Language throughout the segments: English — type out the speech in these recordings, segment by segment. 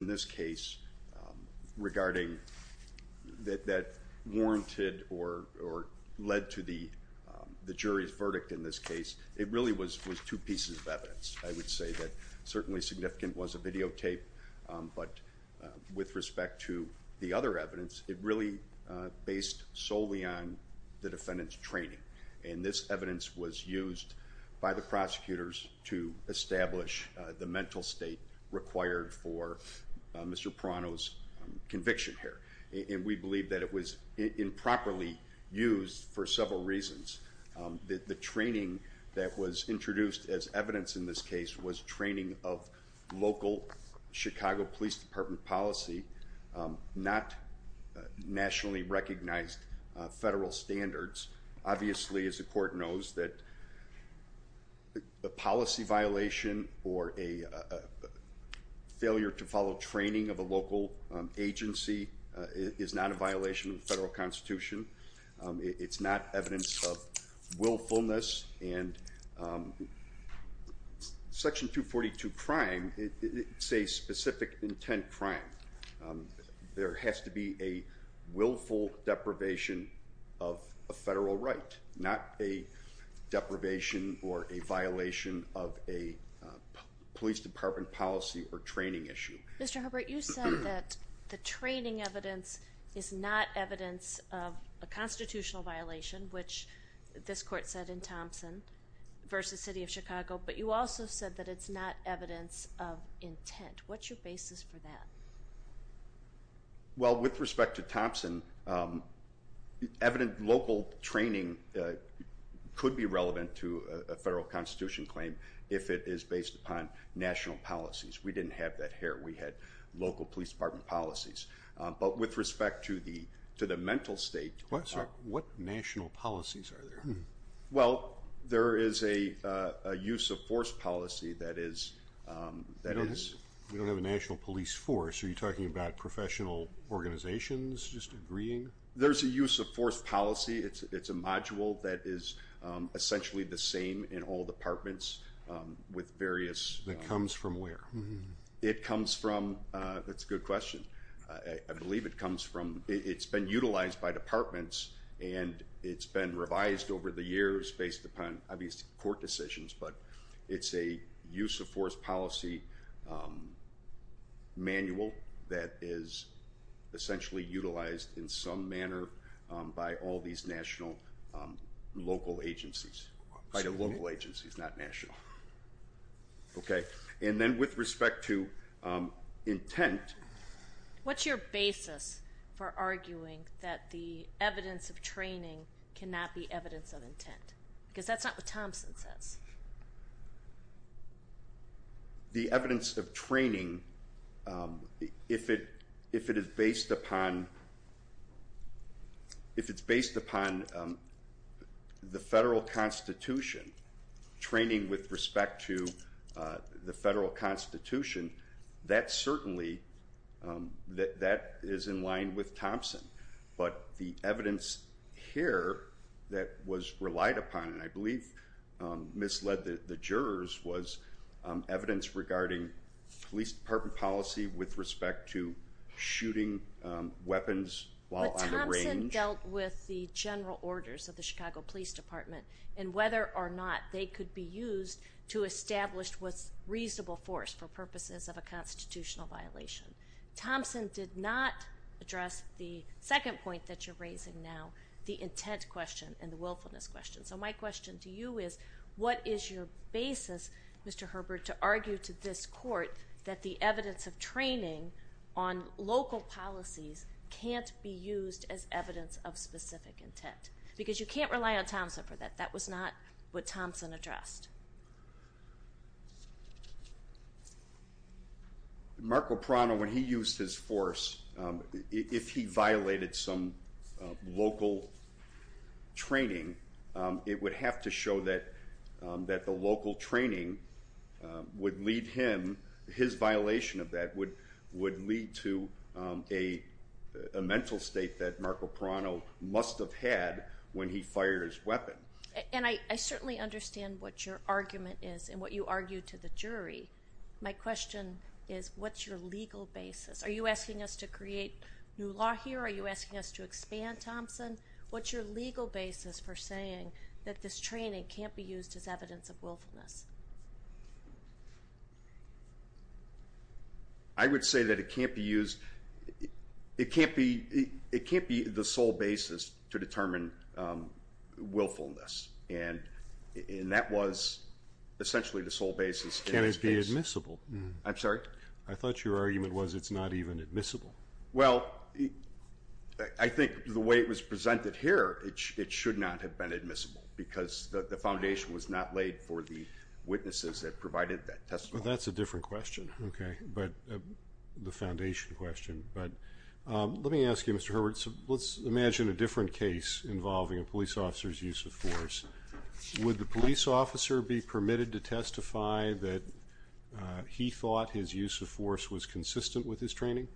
in this case regarding that that warranted or or led to the the jury's verdict in this case it really was was two pieces of evidence I would say that certainly significant was a videotape but with respect to the other evidence it really based solely on the defendant's training and this evidence was used by the prosecutors to establish the mental state required for Mr. Proano's conviction here and we believe that it was improperly used for several reasons that the training that was introduced as evidence in this case was training of local Chicago Police Department policy not nationally recognized federal standards obviously as the court knows that the policy violation or a failure to follow training of a local agency is not a violation of the federal Constitution it's not evidence of willfulness and section 242 crime it's a specific intent crime there has to be a willful deprivation of a federal right not a deprivation or a violation of a police department policy or training issue. Mr. Hubbard you said that the training evidence is not evidence of a constitutional violation which this court said in Thompson versus City of Chicago but you also said that it's not evidence of intent what's your basis for that? Well with respect to Thompson evident local training could be relevant to a federal Constitution claim if it is based upon national policies we didn't have that here we had local Police Department policies but with respect to the to the mental state. What national policies are there? Well there is a use of force policy that is that is. We don't have a national police force are you talking about professional organizations just agreeing? There's a use of force policy it's it's a module that is essentially the same in all departments with various. That comes from where? It comes from that's a good question I believe it comes from it's been utilized by departments and it's been revised over the years based upon obviously court decisions but it's a use of force policy manual that is essentially utilized in some manner by all these national local agencies by the local agencies not national. Okay and then with respect to intent. What's your that the evidence of training cannot be evidence of intent because that's not what Thompson says. The evidence of training if it if it is based upon if it's based upon the federal Constitution training with respect to the federal Constitution that certainly that that is in line with Thompson but the evidence here that was relied upon and I believe misled the jurors was evidence regarding Police Department policy with respect to shooting weapons while on the range. But Thompson dealt with the general orders of the Chicago Police Department and whether or not they could be used to establish what's reasonable force for purposes of a constitutional violation. Thompson did not address the second point that you're raising now the intent question and the willfulness question so my question to you is what is your basis Mr. Herbert to argue to this court that the evidence of training on local policies can't be used as evidence of what Thompson addressed. Marco Prano when he used his force if he violated some local training it would have to show that that the local training would lead him his violation of that would would lead to a mental state that Marco had when he fired his weapon. And I certainly understand what your argument is and what you argue to the jury my question is what's your legal basis are you asking us to create new law here are you asking us to expand Thompson what's your legal basis for saying that this training can't be used as evidence of willfulness? I would say that it can't be used it can't be it can't be the sole basis to determine willfulness and that was essentially the sole basis. Can it be admissible? I'm sorry I thought your argument was it's not even admissible. Well I think the way it was presented here it should not have been admissible because the foundation was not laid for the witnesses that provided that testimony. That's a different question okay but the foundation question but let me ask you Mr. Hurwitz let's imagine a different case involving a police officer's use of force would the police officer be permitted to testify that he thought his use of force was consistent with his training?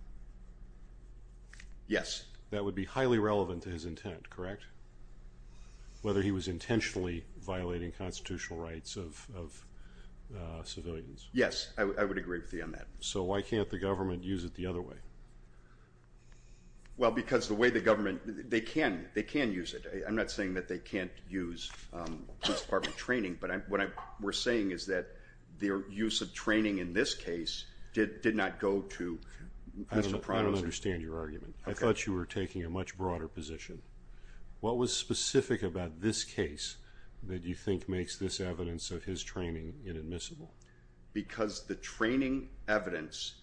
Yes. That would be highly relevant to his intent correct? Whether he was intentionally violating constitutional rights of civilians? Yes I would agree with you on that. So why can't the government use it the other way? Well because the way the government they can they can use it I'm not saying that they can't use police department training but I'm what I were saying is that their use of training in this case did not go to... I don't understand your argument I thought you were taking a much broader position. What was specific about this case that you think makes this evidence of his training inadmissible? Because the training evidence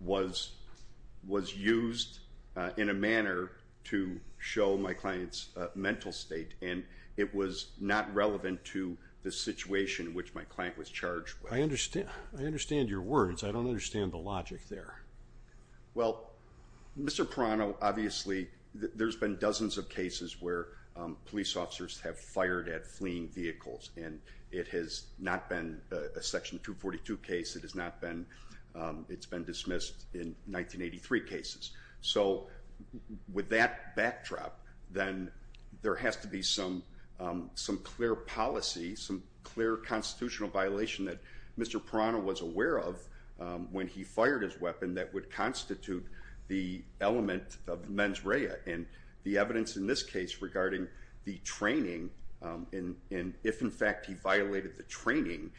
was was used in a manner to show my client's mental state and it was not relevant to the situation in which my client was charged. I understand I understand your words I don't understand the logic there. Well Mr. Perrano obviously there's been dozens of cases where police officers have fired at fleeing vehicles and it has not been a section 242 case it has not been it's been dismissed in 1983 cases. So with that backdrop then there has to be some some clear policy some clear constitutional violation that Mr. Perrano was aware of when he fired his weapon that would constitute the element of mens rea and the evidence in this case regarding the training and if in fact he violated the training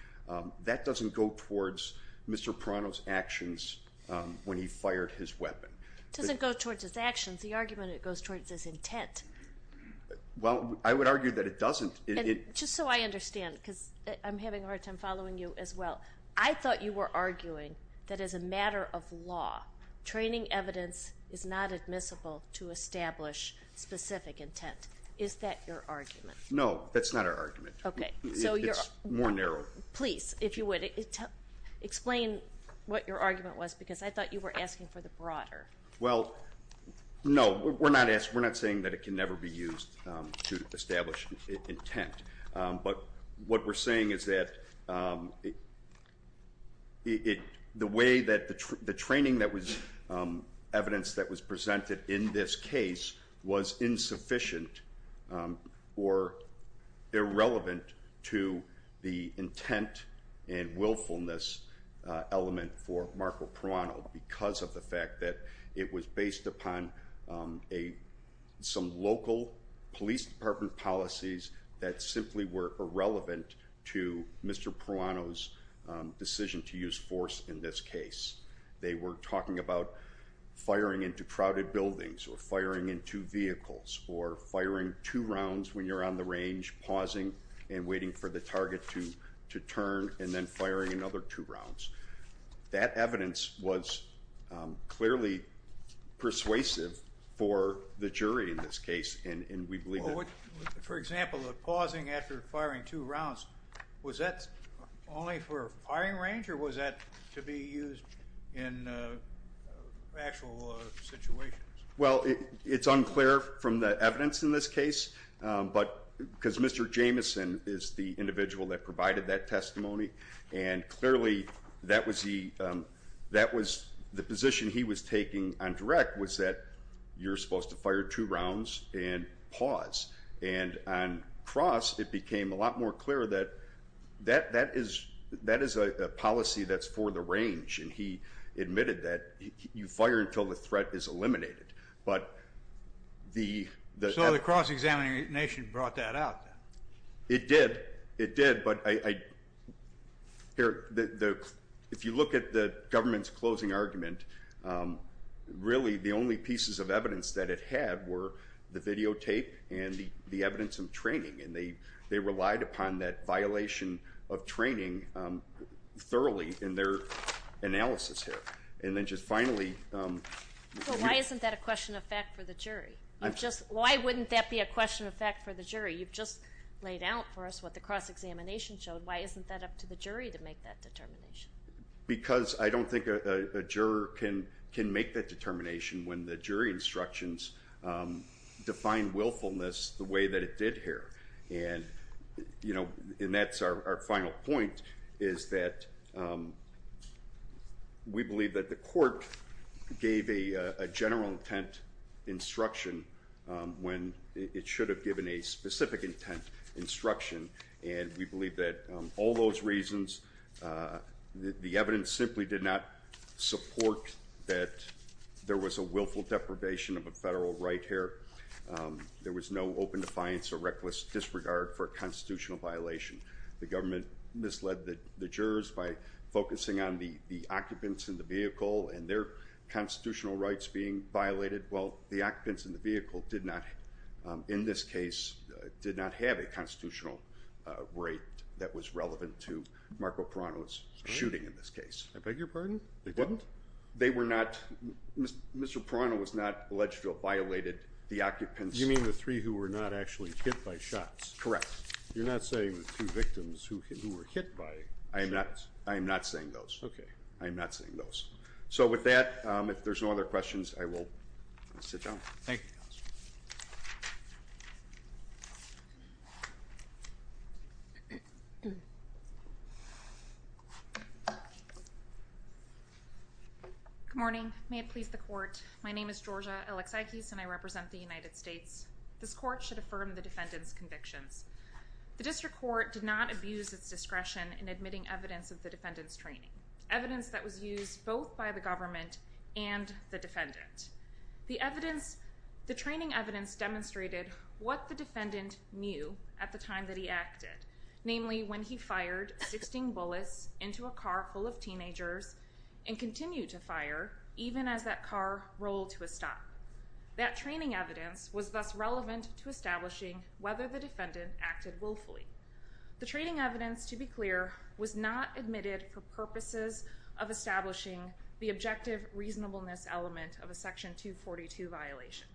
that doesn't go towards Mr. Perrano's actions when he fired his weapon. It doesn't go towards his actions the argument it goes towards his intent. Well I would argue that it doesn't. Just so I understand because I'm having a hard time following you as well I thought you were arguing that as a matter of law training evidence is not admissible to establish specific intent. Is that your argument? No that's not our argument. Okay so you're more narrow. Please if you would explain what your argument was because I thought you were asking for the broader. Well no we're not asking we're not saying that it can never be used to establish intent but what we're saying is that it the way that the training that was evidence that was presented in this case was insufficient or irrelevant to the intent and willfulness element for Marco Perrano because of the fact that it was based upon a some local police department policies that simply were irrelevant to Mr. Perrano's decision to force in this case. They were talking about firing into crowded buildings or firing into vehicles or firing two rounds when you're on the range pausing and waiting for the target to to turn and then firing another two rounds. That evidence was clearly persuasive for the jury in this case and we believe. For example the pausing after firing two rounds was that only for firing range or was that to be used in actual situations? Well it's unclear from the evidence in this case but because Mr. Jameson is the individual that provided that testimony and clearly that was the that was the position he was taking on direct was that you're supposed to fire two rounds and pause and on cross it became a lot more clear that that that is that is a policy that's for the range and he admitted that you fire until the threat is eliminated but the... So the cross-examination brought that out? It did it did but I here the if you look at the government's closing argument really the only pieces of evidence that it had were the videotape and the evidence of training and they they relied upon that violation of training thoroughly in their analysis here and then just finally... Why isn't that a question of fact for the jury? I'm just why wouldn't that be a question of fact for the jury you've just laid out for us what the cross-examination showed why isn't that up to the jury to make that determination? Because I don't think a juror can can make that determination when the jury instructions define willfulness the way that it did here and you know and that's our final point is that we believe that the court gave a general intent instruction when it should have given a specific intent instruction and we believe that all those reasons the evidence simply did not support that there was a willful deprivation of a federal right here there was no open defiance or reckless disregard for a constitutional violation the government misled that the jurors by focusing on the the occupants in the vehicle and their constitutional rights being violated well the occupants in the vehicle did not in this case did not have a constitutional right that was relevant to Marco Prano's shooting in this case. I beg your pardon? They didn't? They were not, Mr. Prano was not alleged to have violated the occupants. You mean the three who were not actually hit by shots? Correct. You're not saying the two victims who were hit by? I am not I am not saying those. Okay. I am not saying those. So with that if there's no other questions I will sit down. Thank you. Good morning may it please the court my name is Georgia Alexakis and I represent the United States this court should affirm the defendants convictions the district court did not abuse its discretion in admitting evidence of the defendants training evidence that was used both by the government and the defendant the evidence the training evidence demonstrated what the defendant knew at the time that he acted namely when he fired 16 bullets into a car full of teenagers and continued to fire even as that car rolled to a stop that training evidence was thus relevant to establishing whether the defendant acted willfully the training evidence to be clear was not admitted for purposes of establishing the objective reasonableness element of a section 242 violation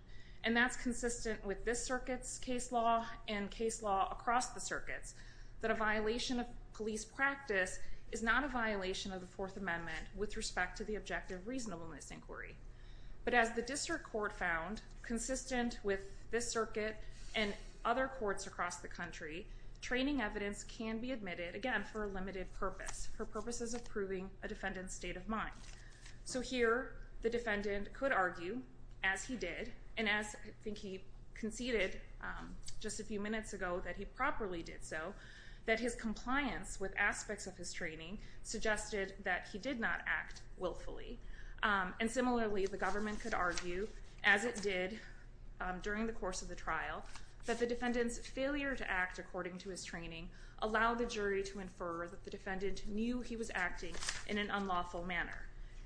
and that's consistent with this circuits case law and case law across the circuits that a violation of police practice is not a violation of the Fourth Amendment with respect to the objective reasonableness inquiry but as the district court found consistent with this circuit and other courts across the country training evidence can be admitted again for a limited purpose for purposes of proving a defendant state of mind so here the defendant could argue as he did and as I think he conceded just a few minutes ago that he properly did so that his compliance with aspects of his training suggested that he did not act willfully and similarly the government could argue as it did during the course of the trial that the defendants failure to act according to his training allowed the jury to infer that the defendant knew he was acting in an unlawful manner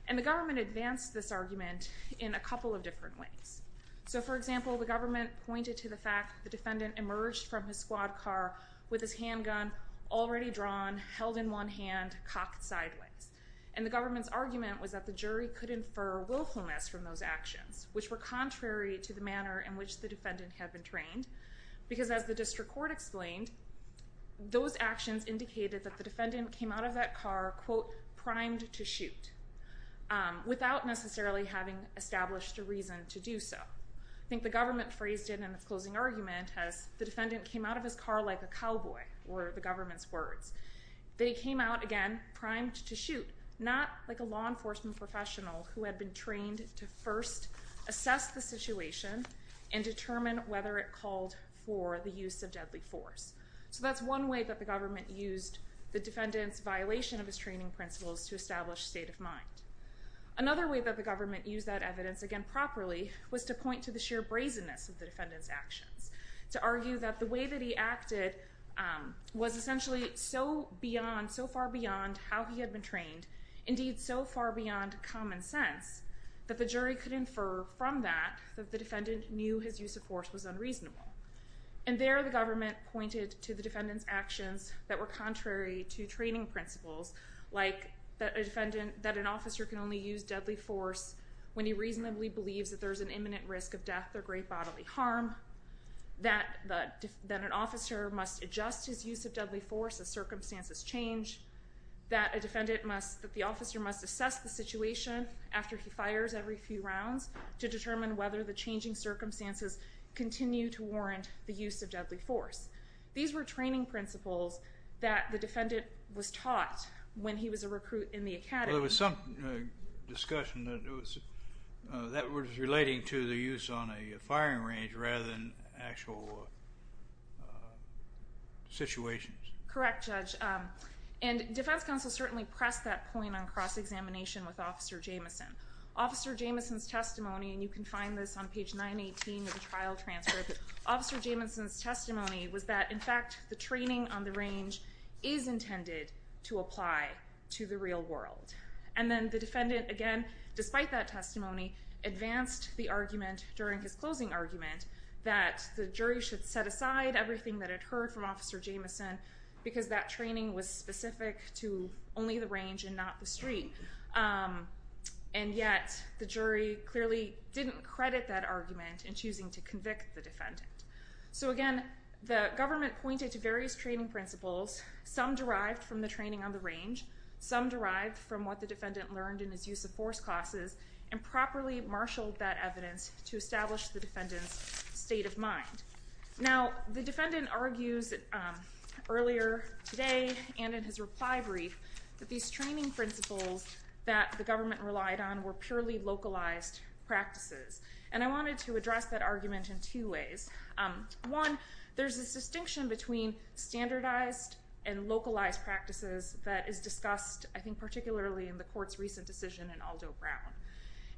and the government advanced this argument in a couple of different ways so for example the government pointed to the fact the defendant emerged from his squad car with his handgun already drawn held in one hand cocked sideways and the government's argument was that the jury could infer willfulness from those actions which were contrary to the manner in which the defendant had been trained because as the district court explained those actions indicated that the defendant came out of that car quote without necessarily having established a reason to do so. I think the government phrased it in its closing argument as the defendant came out of his car like a cowboy were the government's words they came out again primed to shoot not like a law enforcement professional who had been trained to first assess the situation and determine whether it called for the use of deadly force so that's one way that the government used the defendant's violation of his principles to establish state of mind. Another way that the government used that evidence again properly was to point to the sheer brazenness of the defendant's actions to argue that the way that he acted was essentially so beyond so far beyond how he had been trained indeed so far beyond common sense that the jury could infer from that that the defendant knew his use of force was unreasonable and there the government pointed to the defendant's actions that were contrary to training principles like that a defendant that an officer can only use deadly force when he reasonably believes that there's an imminent risk of death or great bodily harm, that an officer must adjust his use of deadly force as circumstances change, that a defendant must that the officer must assess the situation after he fires every few rounds to determine whether the changing circumstances continue to warrant the that the defendant was taught when he was a recruit in the academy. There was some discussion that was relating to the use on a firing range rather than actual situations. Correct Judge and Defense Counsel certainly pressed that point on cross-examination with Officer Jamison. Officer Jamison's testimony and you can find this on page 918 of the trial transcript. Officer Jamison's the range is intended to apply to the real world and then the defendant again despite that testimony advanced the argument during his closing argument that the jury should set aside everything that it heard from Officer Jamison because that training was specific to only the range and not the street and yet the jury clearly didn't credit that argument in choosing to convict the defendant. So again the government pointed to various training principles, some derived from the training on the range, some derived from what the defendant learned in his use of force classes and properly marshaled that evidence to establish the defendant's state of mind. Now the defendant argues earlier today and in his reply brief that these training principles that the government relied on were purely localized practices and I wanted to address that argument in two ways. One, there's a distinction between standardized and localized practices that is discussed I think particularly in the court's recent decision in Aldo Brown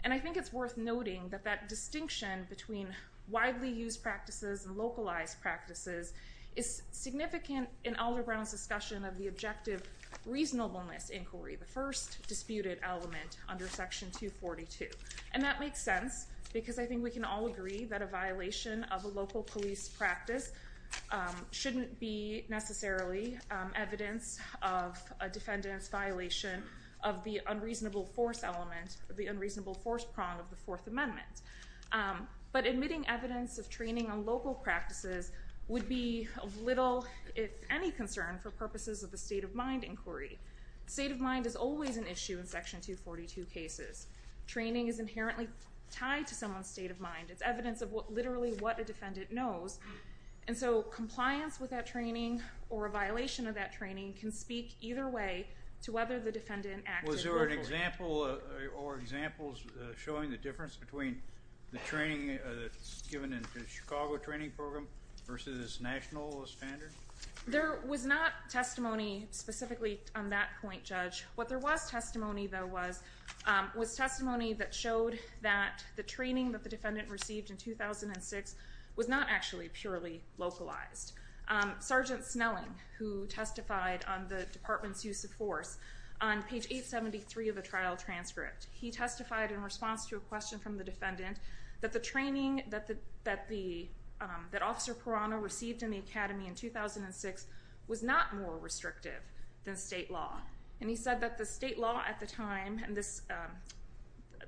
and I think it's worth noting that that distinction between widely used practices and localized practices is significant in Aldo Brown's discussion of the objective reasonableness inquiry, the first disputed element under section 242 and that makes sense because I think we can all agree that a violation of a local police practice shouldn't be necessarily evidence of a defendant's violation of the unreasonable force element, the unreasonable force prong of the Fourth Amendment, but admitting evidence of training on local practices would be of little if any concern for purposes of the state of mind inquiry. State of mind is always an issue in someone's state of mind. It's evidence of what literally what a defendant knows and so compliance with that training or a violation of that training can speak either way to whether the defendant acted locally. Was there an example or examples showing the difference between the training that's given in the Chicago training program versus national standard? There was not testimony specifically on that point judge. What there was testimony though was was testimony that showed that the training that the defendant received in 2006 was not actually purely localized. Sergeant Snelling who testified on the department's use of force on page 873 of the trial transcript, he testified in response to a question from the defendant that the training that the that the that officer Perano received in the Academy in 2006 was not more restrictive than state law and he said that the state law at the time and this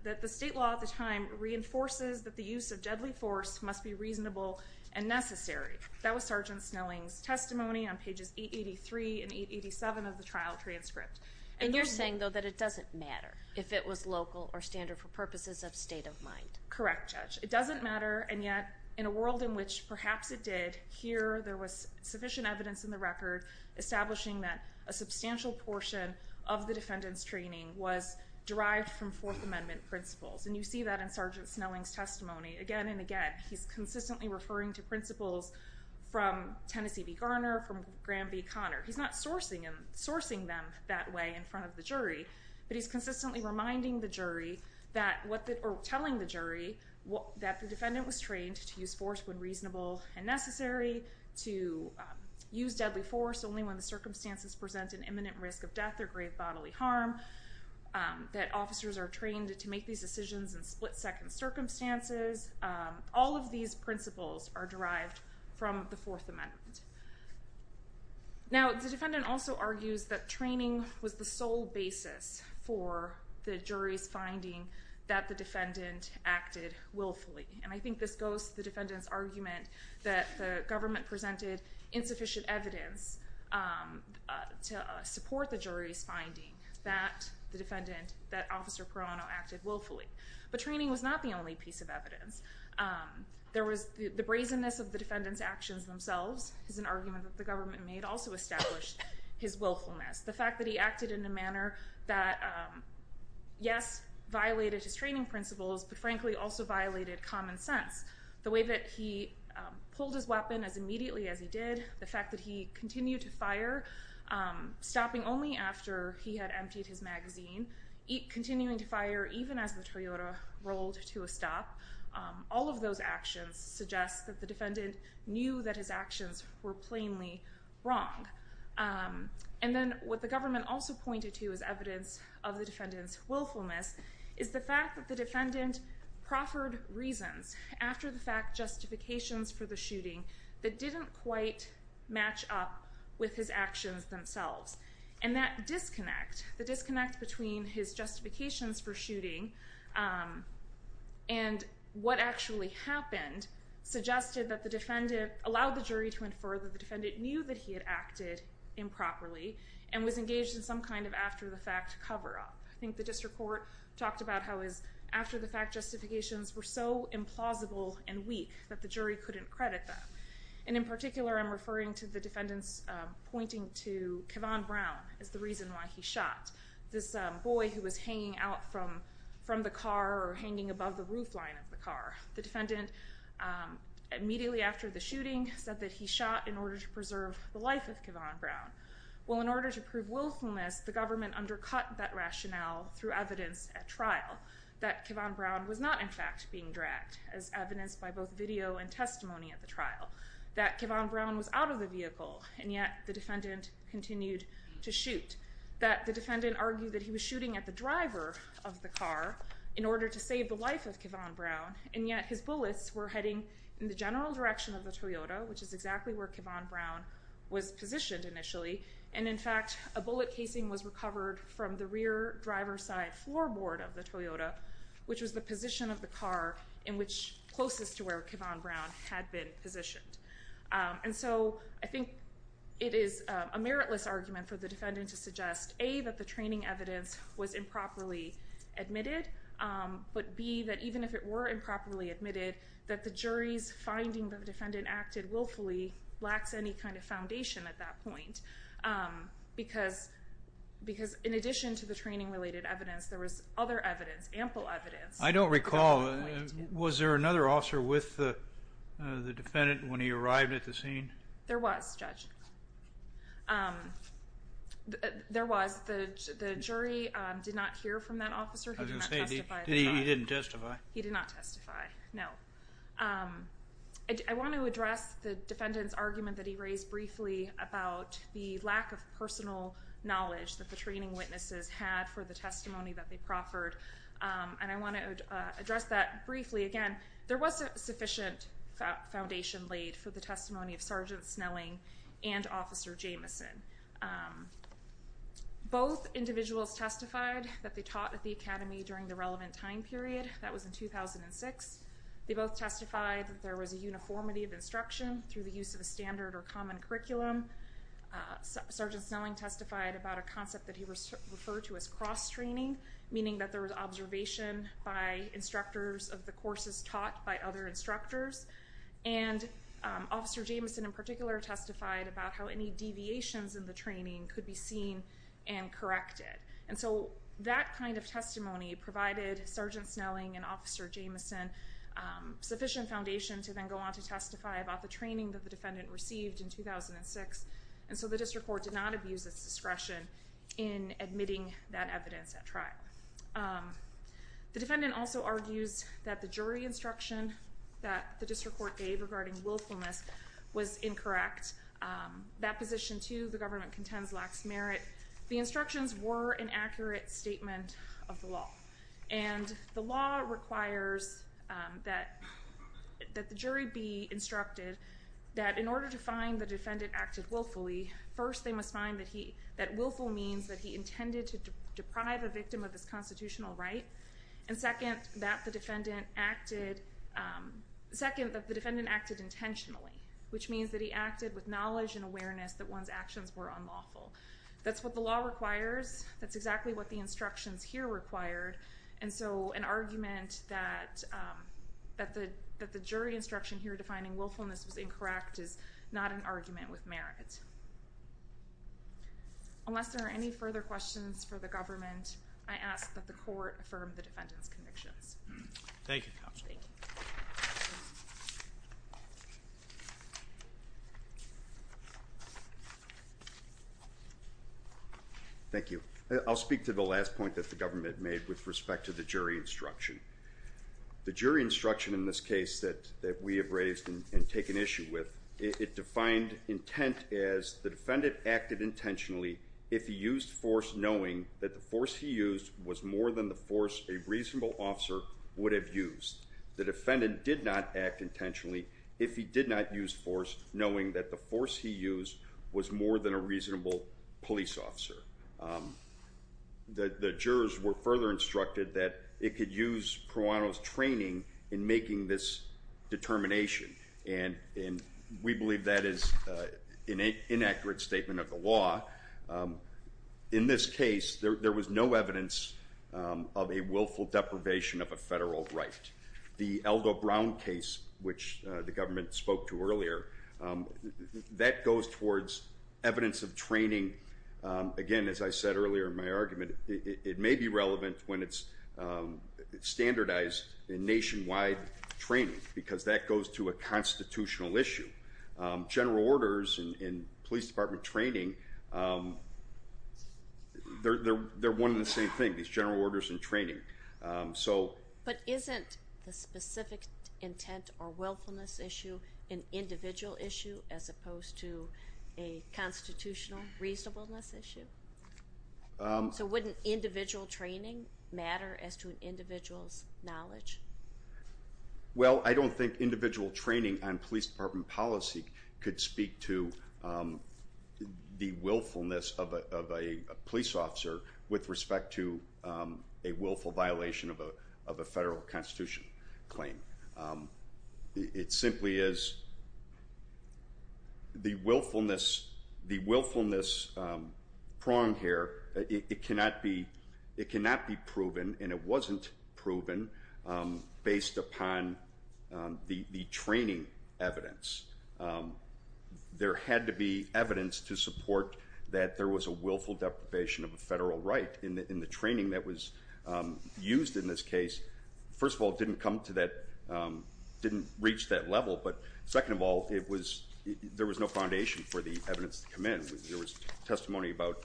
that the state law at the time reinforces that the use of deadly force must be reasonable and necessary. That was Sergeant Snelling's testimony on pages 883 and 887 of the trial transcript. And you're saying though that it doesn't matter if it was local or standard for purposes of state of mind? Correct judge. It doesn't matter and yet in a world in which perhaps it did, here there was sufficient evidence in the record establishing that a substantial portion of the defendant's training was derived from Fourth Amendment principles and you see that in Sergeant Snelling's testimony again and again. He's consistently referring to principles from Tennessee v. Garner, from Graham v. Conner. He's not sourcing and sourcing them that way in front of the jury but he's consistently reminding the jury that what that or telling the jury what that the defendant was trained to use deadly force when reasonable and necessary, to use deadly force only when the circumstances present an imminent risk of death or grave bodily harm, that officers are trained to make these decisions in split-second circumstances. All of these principles are derived from the Fourth Amendment. Now the defendant also argues that training was the sole basis for the jury's finding that the argument that the government presented insufficient evidence to support the jury's finding that the defendant, that Officer Perano acted willfully. But training was not the only piece of evidence. There was the brazenness of the defendant's actions themselves is an argument that the government made also established his willfulness. The fact that he acted in a manner that yes violated his training principles but frankly also violated common sense. The way that he pulled his weapon as immediately as he did. The fact that he continued to fire, stopping only after he had emptied his magazine, continuing to fire even as the Toyota rolled to a stop. All of those actions suggest that the defendant knew that his actions were plainly wrong. And then what the government also pointed to as evidence of the defendant's willfulness is the defendant proffered reasons after the fact justifications for the shooting that didn't quite match up with his actions themselves. And that disconnect, the disconnect between his justifications for shooting and what actually happened suggested that the defendant allowed the jury to infer that the defendant knew that he had acted improperly and was engaged in some kind of after-the-fact cover-up. I think the district court talked about how his after-the-fact justifications were so implausible and weak that the jury couldn't credit them. And in particular I'm referring to the defendant's pointing to Kevon Brown as the reason why he shot this boy who was hanging out from the car or hanging above the roof line of the car. The defendant immediately after the shooting said that he shot in order to preserve the life of Kevon Brown. Well in order to prove willfulness the government undercut that Kevon Brown was not in fact being dragged as evidenced by both video and testimony at the trial. That Kevon Brown was out of the vehicle and yet the defendant continued to shoot. That the defendant argued that he was shooting at the driver of the car in order to save the life of Kevon Brown and yet his bullets were heading in the general direction of the Toyota which is exactly where Kevon Brown was positioned initially and in fact a bullet casing was recovered from the rear driver's side floorboard of the Toyota which was the position of the car in which closest to where Kevon Brown had been positioned. And so I think it is a meritless argument for the defendant to suggest A that the training evidence was improperly admitted but B that even if it were improperly admitted that the jury's finding the defendant acted willfully lacks any kind of foundation at that point because in addition to the training related evidence there was other evidence, ample evidence. I don't recall, was there another officer with the defendant when he arrived at the scene? There was, Judge. There was. The jury did not hear from that officer. He didn't testify. He did not testify, no. I want to address the defendant's argument that he raised briefly about the lack of personal knowledge that the training witnesses had for the testimony that they proffered and I want to address that briefly again. There was a sufficient foundation laid for the testimony of Sergeant Snelling and Officer Jameson. Both individuals testified that they taught at the Academy during the relevant time period. That was in 2006. They both testified that there was a uniformity of instruction through the use of a standard or common curriculum. Sergeant Snelling testified about a concept that he referred to as cross-training, meaning that there was observation by instructors of the courses taught by other instructors and Officer Jameson in particular testified about how any And so that kind of testimony provided Sergeant Snelling and Officer Jameson sufficient foundation to then go on to testify about the training that the defendant received in 2006 and so the District Court did not abuse its discretion in admitting that evidence at trial. The defendant also argues that the jury instruction that the District Court gave regarding willfulness was incorrect. That position, too, the government contends lacks merit. The instructions were an inaccurate statement of the law and the law requires that the jury be instructed that in order to find the defendant acted willfully, first they must find that willful means that he intended to deprive a victim of his constitutional right and second that the defendant acted intentionally, which means that he acted with knowledge and awareness that one's actions were unlawful. That's what the law requires. That's exactly what the instructions here required and so an argument that that the jury instruction here defining willfulness was incorrect is not an argument with merit. Unless there are any further questions for the government, I ask that the court affirm the defendant's convictions. Thank you, Counselor. Thank you. I'll speak to the last point that the government made with respect to the jury instruction. The jury instruction in this case that that we have raised and taken issue with, it defined intent as the defendant acted intentionally if he used force knowing that the force he used was more than the would have used. The defendant did not act intentionally if he did not use force knowing that the force he used was more than a reasonable police officer. The jurors were further instructed that it could use Proano's training in making this determination and we believe that is an inaccurate statement of the law. In this case, there was no evidence of a willful deprivation of a federal right. The Aldo Brown case, which the government spoke to earlier, that goes towards evidence of training. Again, as I said earlier in my argument, it may be relevant when it's standardized in nationwide training because that goes to a constitutional issue. General orders in police department training, they're one and the same thing, these general orders and training. But isn't the specific intent or willfulness issue an individual issue as opposed to a constitutional reasonableness issue? So wouldn't individual training matter as to an individual's knowledge? Well, I don't think individual training on police department policy could speak to the willfulness of a police officer with respect to a willful violation of a federal constitution claim. It simply is the willfulness pronged here. It cannot be proven, and it wasn't proven, based upon the training evidence. There had to be evidence to support that there was a willful deprivation of a federal right in the training that was used in this case. First of all, it didn't come to that, didn't reach that level, but second of all, there was no foundation for the evidence to come in. There was testimony about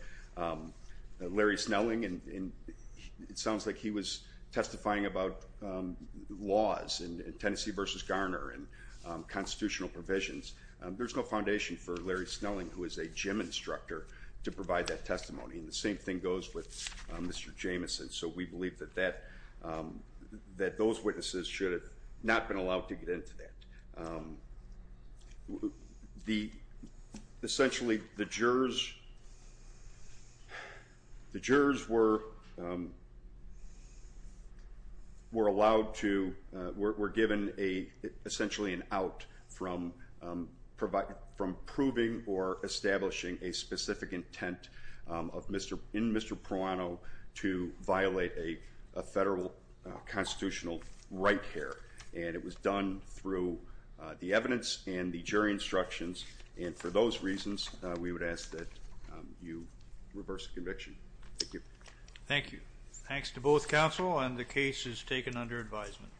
Larry Snelling, and it sounds like he was testifying about laws in Tennessee v. Garner and constitutional provisions. There's no foundation for Larry Snelling, who is a gym instructor, to provide that testimony. And the same thing goes with Mr. Jamison. So we believe that those witnesses should have not been allowed to testify. Essentially, the jurors were allowed to, were given essentially an out from proving or establishing a specific intent in Mr. Proano to violate a federal constitutional right here. And it was done through the evidence and the jury instructions, and for those reasons, we would ask that you reverse the conviction. Thank you. Thank you. Thanks to both counsel and the case is taken under advisement.